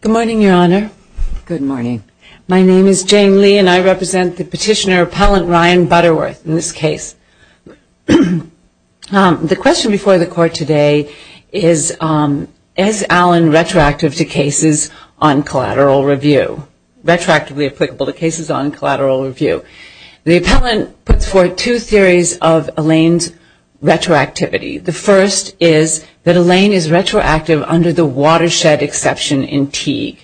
Good morning, Your Honor. Good morning. My name is Jane Lee and I represent the Petitioner Appellant Ryan Butterworth in this case. The question before the Court today is, is Allen retroactive to cases on collateral review? Retroactively applicable to cases on collateral review. The Appellant puts forth two theories of Allen's retroactivity. The first is that Allen is retroactive under the watershed exception in Teague.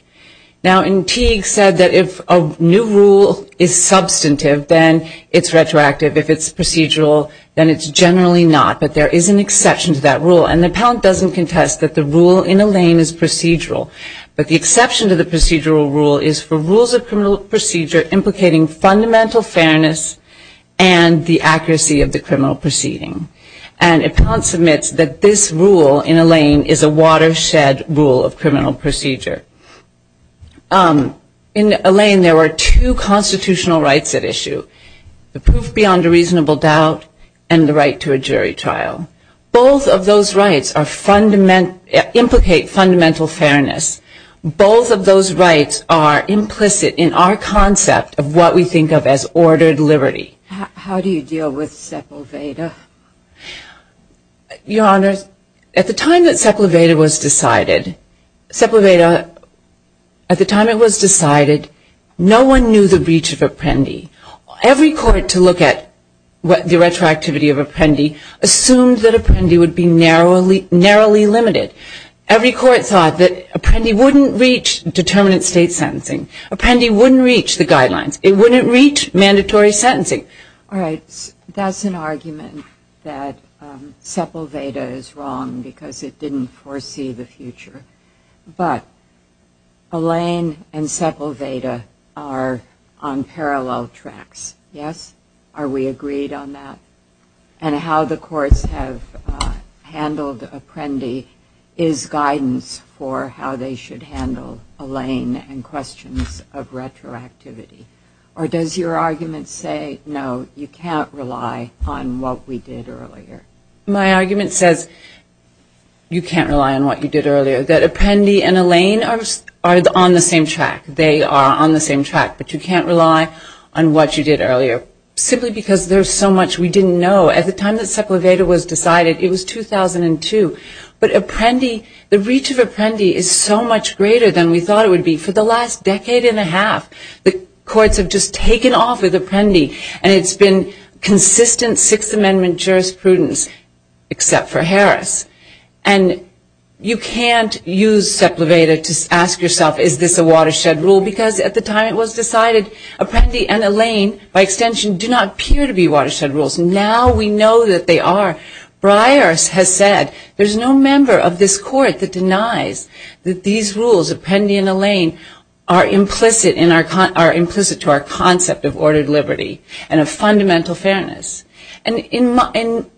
Now in Teague said that if a new rule is substantive, then it's retroactive. If it's procedural, then it's generally not. But there is an exception to that rule and the Appellant doesn't contest that the rule in Allen is procedural. But the exception to the procedural rule is for rules of criminal procedure implicating fundamental fairness and the accuracy of the criminal proceeding. And Appellant submits that this rule in Allen is a watershed rule of criminal procedure. In Allen there were two constitutional rights at issue. The proof beyond a reasonable doubt and the right to a jury trial. Both of those rights are fundamental, implicate fundamental fairness. Both of those rights are implicit in our concept of what we think of as ordered liberty. How do you deal with Sepulveda? Your Honor, at the time that Sepulveda was decided, Sepulveda, at the time it was decided, no one knew the breach of Apprendi. Every court to look at the retroactivity of Apprendi assumed that Apprendi would be narrowly limited. Every court thought that Apprendi wouldn't reach determinate state sentencing. Apprendi wouldn't reach the guidelines. It wouldn't reach mandatory sentencing. All right. That's an argument that Sepulveda is wrong because it didn't foresee the future. But Allain and Sepulveda are on parallel tracks. Yes? Are we agreed on that? And how the courts have handled Apprendi is guidance for how they should handle Allain and questions of retroactivity. Or does your argument say, no, you can't rely on what we did earlier? My argument says you can't rely on what you did earlier. That Apprendi and Allain are on the same track. They are on the same track. But you can't rely on what you did earlier simply because there's so much we didn't know. At the time that Sepulveda was decided, it was 2002. But Apprendi, the breach of Apprendi is so much greater than we thought it would be. For the last decade and a half, the courts have just taken off with Apprendi. And it's been consistent Sixth Amendment jurisprudence except for Harris. And you can't use Sepulveda to ask yourself, is this a watershed rule? Because at the time it was decided Apprendi and Allain, by extension, do not appear to be watershed rules. Now we know that they are. Breyers has said there's no member of this court that denies that these rules, Apprendi and Allain, are implicit to our concept of ordered liberty and of fundamental fairness. And in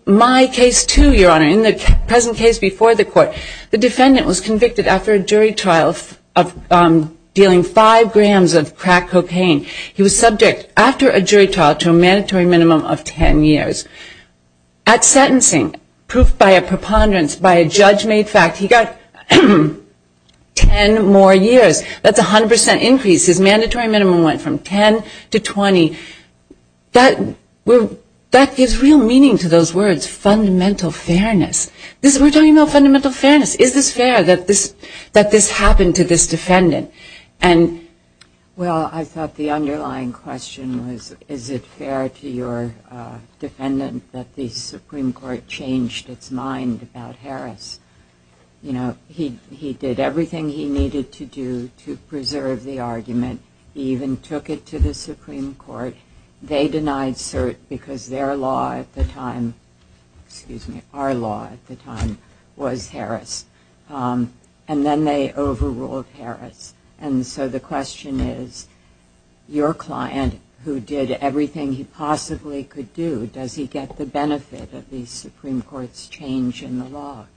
my case, too, Your Honor, in the present case before the court, the defendant was convicted after a jury trial of dealing five grams of crack cocaine. He was subject after a jury trial to a mandatory minimum of ten years. At sentencing, proved by a preponderance by a judge-made fact, he got ten more years. That's a hundred percent increase. His mandatory minimum went from ten to twenty. That gives real meaning to those words, fundamental fairness. We're talking about fundamental fairness. Is this fair that this happened to this defendant? And well, I thought the underlying question was, is it fair to your defendant that the defense, you know, he did everything he needed to do to preserve the argument. He even took it to the Supreme Court. They denied cert because their law at the time, excuse me, our law at the time was Harris. And then they overruled Harris. And so the question is, your client, who did everything he possibly could do, does he get the benefit of the Supreme Court's change in the law?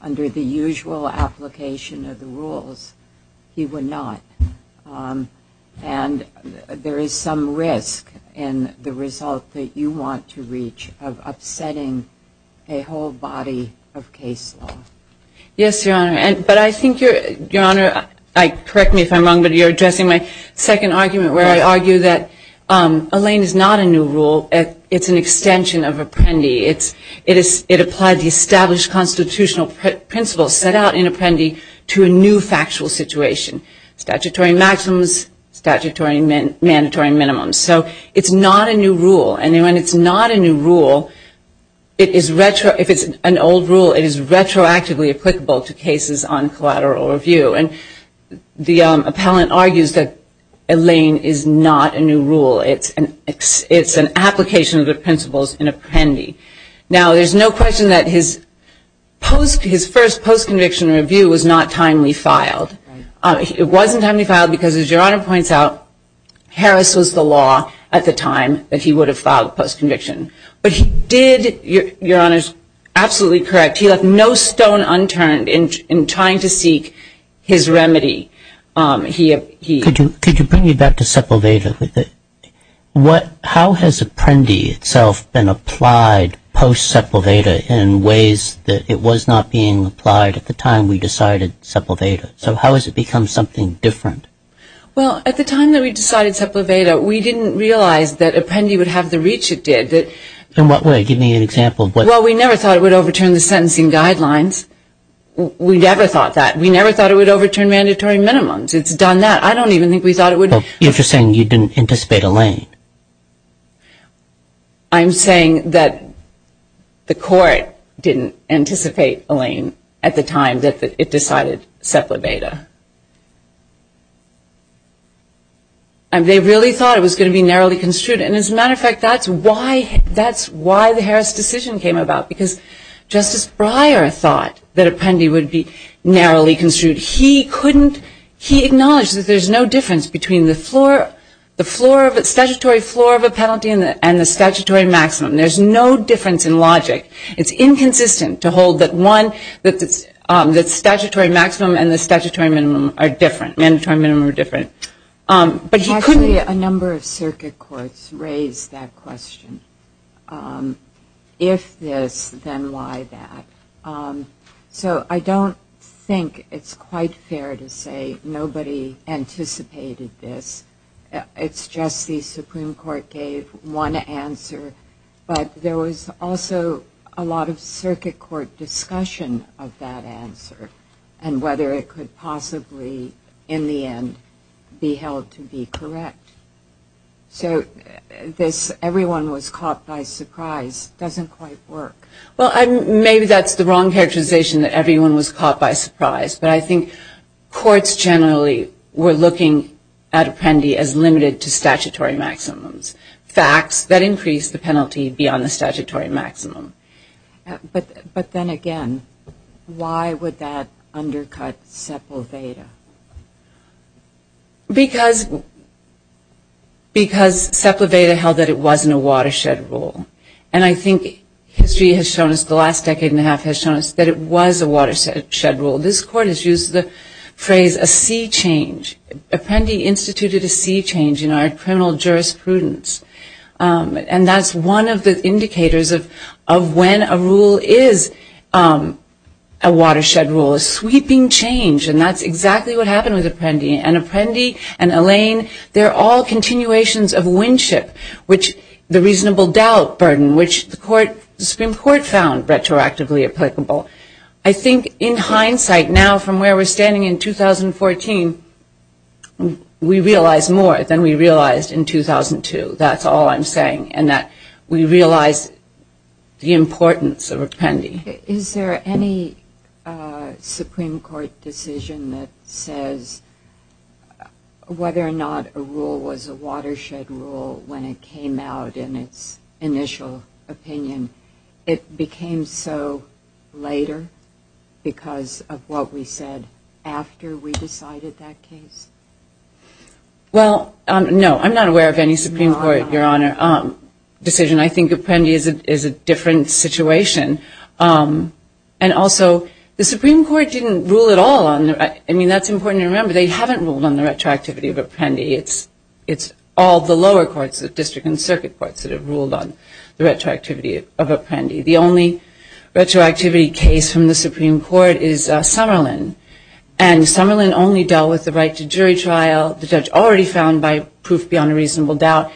Under the usual application of the rules, he would not. And there is some risk in the result that you want to reach of upsetting a whole body of case law. Yes, Your Honor. But I think you're, Your Honor, correct me if I'm wrong, but you're addressing my second argument where I argue that a lane is not a new rule. It's an extension of Apprendi. It's, it is, it applies the established constitutional principles set out in Apprendi to a new factual situation. Statutory maxims, statutory mandatory minimums. So it's not a new rule. And when it's not a new rule, it is retro, if it's an old rule, it is retroactively applicable to cases on collateral review. And the appellant argues that a lane is not a new rule. It's an, it's an application of the principles in Apprendi. Now there's no question that his post, his first post-conviction review was not timely filed. It wasn't timely filed because as Your Honor points out, Harris was the law at the time that he would have filed a post-conviction. But he did, Your Honor's absolutely correct, he left no stone unturned in, in trying to seek his remedy. He, he... Could you, could you bring me back to Sepulveda? What, how has Apprendi itself been applied post-Sepulveda in ways that it was not being applied at the time we decided Sepulveda? So how has it become something different? Well at the time that we decided Sepulveda, we didn't realize that Apprendi would have the reach it did. In what way? Give me an example of what... Well, you're just saying you didn't anticipate a lane. I'm saying that the court didn't anticipate a lane at the time that it decided Sepulveda. And they really thought it was going to be narrowly construed. And as a matter of fact, that's why, that's why the Harris decision came about. Because Justice Breyer, who was a lawyer, thought that Apprendi would be narrowly construed. He couldn't, he acknowledged that there's no difference between the floor, the floor of a statutory floor of a penalty and the statutory maximum. There's no difference in logic. It's inconsistent to hold that one, that the statutory maximum and the statutory minimum are different, mandatory minimum are different. But he couldn't... Actually, a number of circuit courts raised that question. If this, then why that? So I don't think it's quite fair to say nobody anticipated this. It's just the Supreme Court gave one answer. But there was also a lot of circuit court discussion of that answer and whether it could possibly, in the end, be held to be correct. So this, everyone was caught by surprise, doesn't quite work. Well, maybe that's the wrong characterization that everyone was caught by surprise. But I think courts generally were looking at Apprendi as limited to statutory maximums. Facts that increased the penalty beyond the statutory maximum. But then again, why would that undercut Sepulveda? Because Sepulveda held that it wasn't a watershed rule. And I think history has shown us, the last decade and a half has shown us that it was a watershed rule. This Court has used the phrase, a sea change. Apprendi instituted a sea change in our criminal jurisprudence. And that's one of the indicators of when a rule is a watershed rule, a sweeping change. And that's exactly what happened with Apprendi. And Apprendi and Elaine, they're all continuations of Winship, which the reasonable doubt burden, which the Supreme Court found retroactively applicable. I think in hindsight, now from where we're standing in 2014, we realize more than we realized in 2002. That's all I'm saying. And that we realize the importance of Apprendi. Is there any Supreme Court decision that says whether or not a rule was a watershed rule when it came out in its initial opinion? It became so later because of what we said after we decided that case? Well, no. I'm not aware of any Supreme Court decision. I think Apprendi is a different situation. And also, the Supreme Court didn't rule at all on, I mean, that's important to remember. They haven't ruled on the retroactivity of Apprendi. It's all the lower courts, the district and circuit courts that have ruled on the retroactivity of Apprendi. The only retroactivity case from the Supreme Court is Summerlin. And Summerlin only dealt with the right to jury trial, the judge already found by proof beyond a reasonable doubt.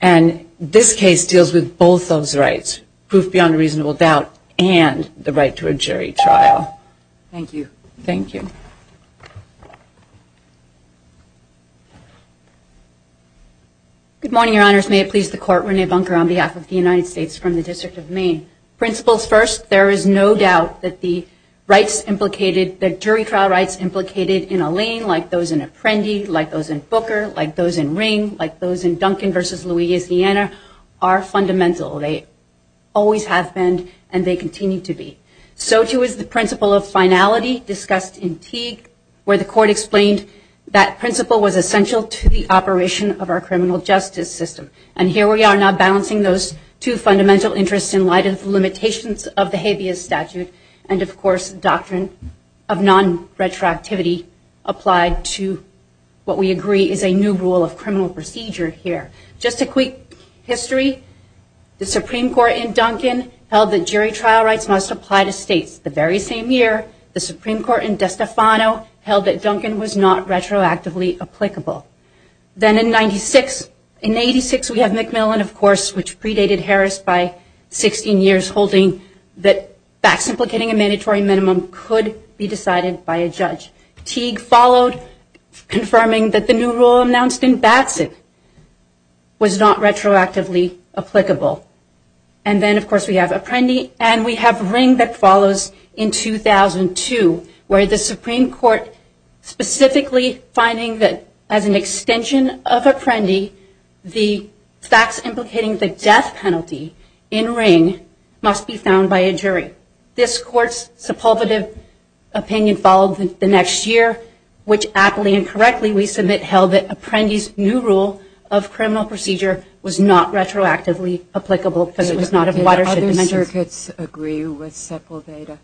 And this case deals with both those rights, proof beyond a reasonable doubt and the right to a jury trial. Thank you. Thank you. Good morning, Your Honors. May it please the Court, Renee Bunker on behalf of the United States from the District of Maine. Principles first, there is no doubt that the rights implicated, the jury trial rights implicated in Alain, like those in Apprendi, like those in Booker, like those in Ring, like those in Duncan v. Louisiana, are fundamental. They always have been and they continue to be. So too is the principle of finality discussed in Teague, where the Court explained that principle was essential to the operation of our criminal justice system. And here we are now balancing those two fundamental interests in light of the limitations of the habeas statute and, of course, doctrine of non-retroactivity applied to what we agree is a new rule of criminal procedure here. Just a quick history, the Supreme Court in Duncan held that jury trial rights must apply to states. The very same year, the Supreme Court in DeStefano held that Duncan was not retroactively applicable. Then in 86, we have McMillan, of course, which predated Harris by 16 years, holding that facts implicating a mandatory minimum could be decided by a judge. Teague followed, confirming that the new rule announced in Batson was not retroactively applicable. And then, of course, we have Apprendi and we have Ring that follows in 2002, where the Supreme Court specifically finding that as an extension of Apprendi, the facts implicating the death penalty in Ring must be found by a jury. This court's suppulvative opinion followed the next year, which, aptly and correctly, we submit held that Apprendi's new rule of criminal procedure was not retroactively applicable because it was not a watershed dimension. Did other circuits agree with Sepulveda?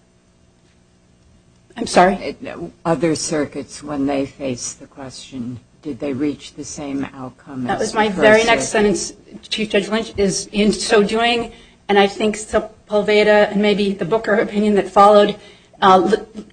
I'm sorry? Other circuits when they faced the question, did they reach the same outcome as the first one? The next sentence, Chief Judge Lynch, is in so doing, and I think Sepulveda and maybe the Booker opinion that followed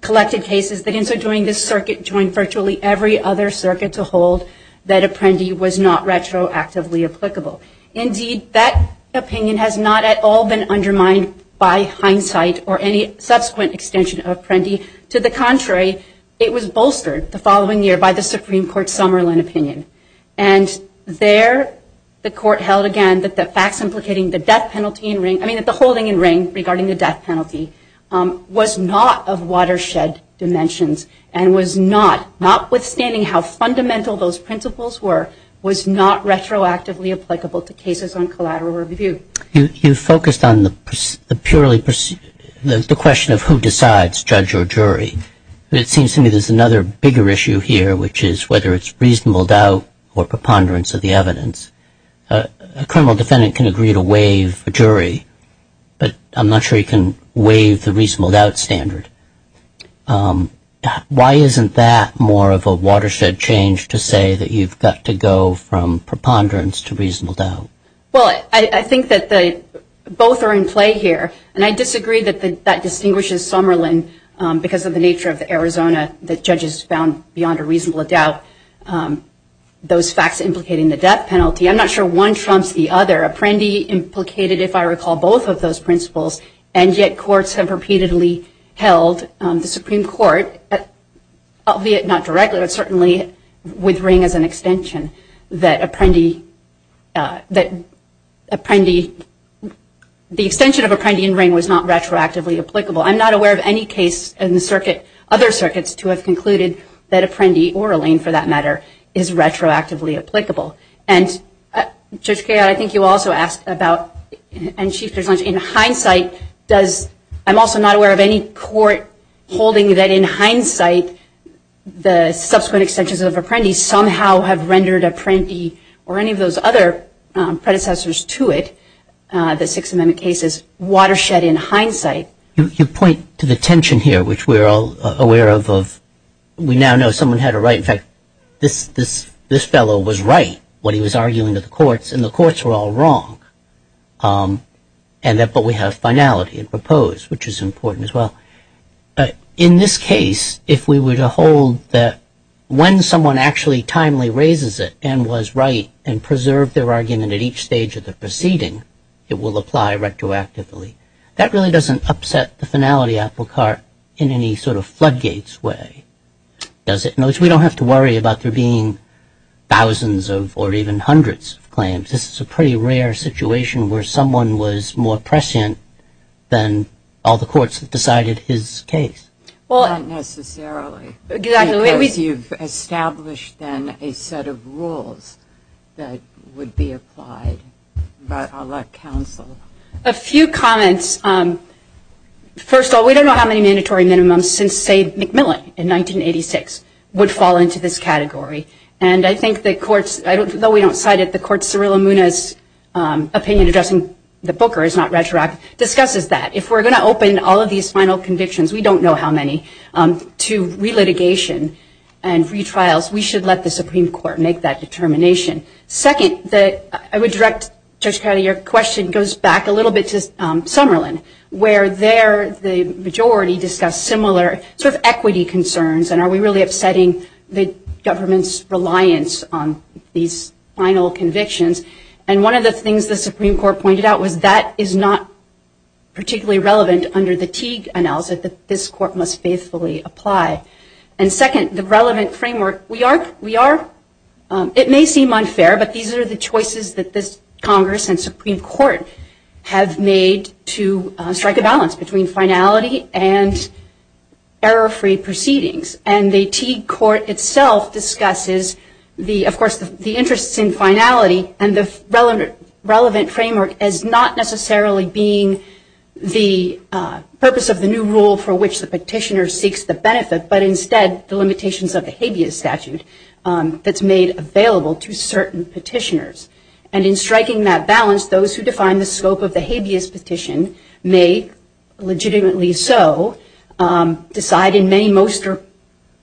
collected cases that in so doing, this circuit joined virtually every other circuit to hold that Apprendi was not retroactively applicable. Indeed, that opinion has not at all been undermined by hindsight or any subsequent extension of Apprendi. To the contrary, it was bolstered the following year by the Supreme Court's Summerlin opinion. And there, the court held again that the facts implicating the death penalty in Ring, I mean that the holding in Ring regarding the death penalty, was not of watershed dimensions and was not, notwithstanding how fundamental those principles were, was not retroactively applicable to cases on collateral review. You focused on the purely, the question of who decides, judge or jury. It seems to me there's another bigger issue here, which is whether it's reasonable doubt or preponderance of the evidence. A criminal defendant can agree to waive a jury, but I'm not sure he can waive the reasonable doubt standard. Why isn't that more of a watershed change to say that you've got to go from preponderance to reasonable doubt? Well, I think that both are in play here, and I disagree that that distinguishes Summerlin because of the nature of the Arizona that judges found beyond a reasonable doubt. Those facts implicating the death penalty, I'm not sure one trumps the other. Apprendi implicated, if I recall, both of those principles, and yet courts have repeatedly held, the Supreme Court, albeit not directly, but certainly with Ring as an extension, that Apprendi, the extension of Apprendi in Ring was not retroactively applicable. I'm not aware of any case in the circuit, other circuits, to have concluded that Apprendi or Ring, for that matter, is retroactively applicable. And, Judge Cahill, I think you also asked about, and Chief Judge Lynch, in hindsight, does, I'm also not aware of any court holding that in hindsight, the subsequent extensions of Apprendi somehow have rendered Apprendi or any of those other predecessors to it, the Sixth Amendment cases, watershed in hindsight. You point to the tension here, which we're all aware of. We now know someone had a right, in fact, this fellow was right, what he was arguing to the courts, and the courts were all wrong. But we have finality and propose, which is important as well. In this case, if we were to hold that when someone actually timely raises it and was right and preserved their argument at each stage of the proceeding, it will apply retroactively. That really doesn't upset the finality applecart in any sort of floodgates way, does it? In other words, we don't have to worry about there being thousands of or even hundreds of claims. This is a pretty rare situation where someone was more prescient than all the courts that decided his case. Well, not necessarily. Because you've established, then, a set of rules that would be applied, but I'll let counsel. A few comments. First of all, we don't know how many mandatory minimums since, say, McMillan in 1986 would fall into this category. And I think the courts, though we don't cite it, the courts' opinion addressing the Booker is not retroactive, discusses that. If we're going to open all of these final convictions, we don't know how many, to relitigation and retrials, we should let the Supreme Court make that determination. Second, I would direct, Judge Cowdery, your question goes back a little bit to Summerlin, where there the majority discussed similar sort of equity concerns. And are we really upsetting the government's reliance on these final convictions? And one of the things the Supreme Court pointed out was that is not particularly relevant under the Teague analysis that this court must faithfully apply. And second, the relevant framework. We are. We are. It may seem unfair, but these are the choices that this Congress and Supreme Court have made to strike a balance between finality and error-free proceedings. And the Teague court itself discusses, of course, the interests in finality and the relevant framework as not necessarily being the purpose of the new rule for which the Habeas statute that's made available to certain petitioners. And in striking that balance, those who define the scope of the Habeas petition may legitimately so decide in many, most, or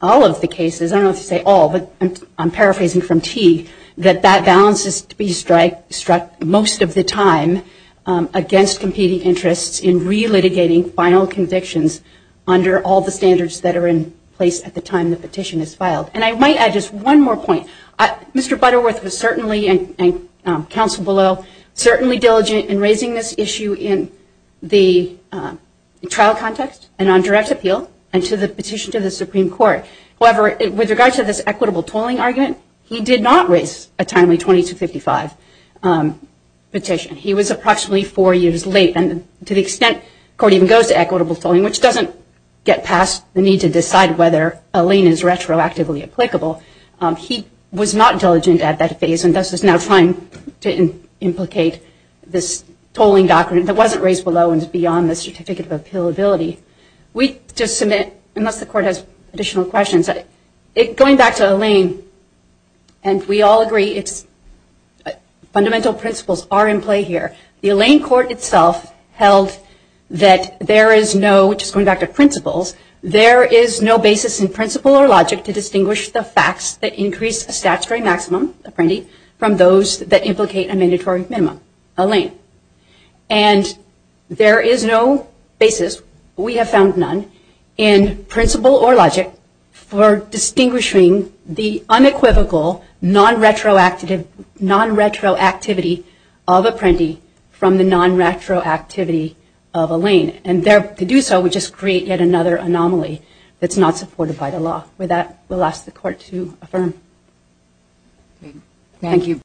all of the cases, I don't know if you say all, but I'm paraphrasing from Teague, that that balance is to be struck most of the time against competing interests in relitigating final convictions under all the standards that are in place at the time the petition is filed. And I might add just one more point. Mr. Butterworth was certainly, and counsel below, certainly diligent in raising this issue in the trial context and on direct appeal and to the petition to the Supreme Court. However, with regard to this equitable tolling argument, he did not raise a timely 2255 petition. He was approximately four years late. And to the extent the court even goes to equitable tolling, which doesn't get past the need to decide whether a lien is retroactively applicable. He was not diligent at that phase and thus is now trying to implicate this tolling document that wasn't raised below and beyond the certificate of appealability. We just submit, unless the court has additional questions, going back to a lien, and we all agree its fundamental principles are in play here. The lien court itself held that there is no, just going back to principles, there is no basis in principle or logic to distinguish the facts that increase a statutory maximum, a printy, from those that implicate a mandatory minimum, a lien. And there is no basis, we have found none, in principle or logic for distinguishing the unequivocal, non-retroactivity of a printy from the non-retroactivity of a lien. And to do so would just create yet another anomaly that's not supported by the law. With that, we'll ask the court to affirm. Thank you.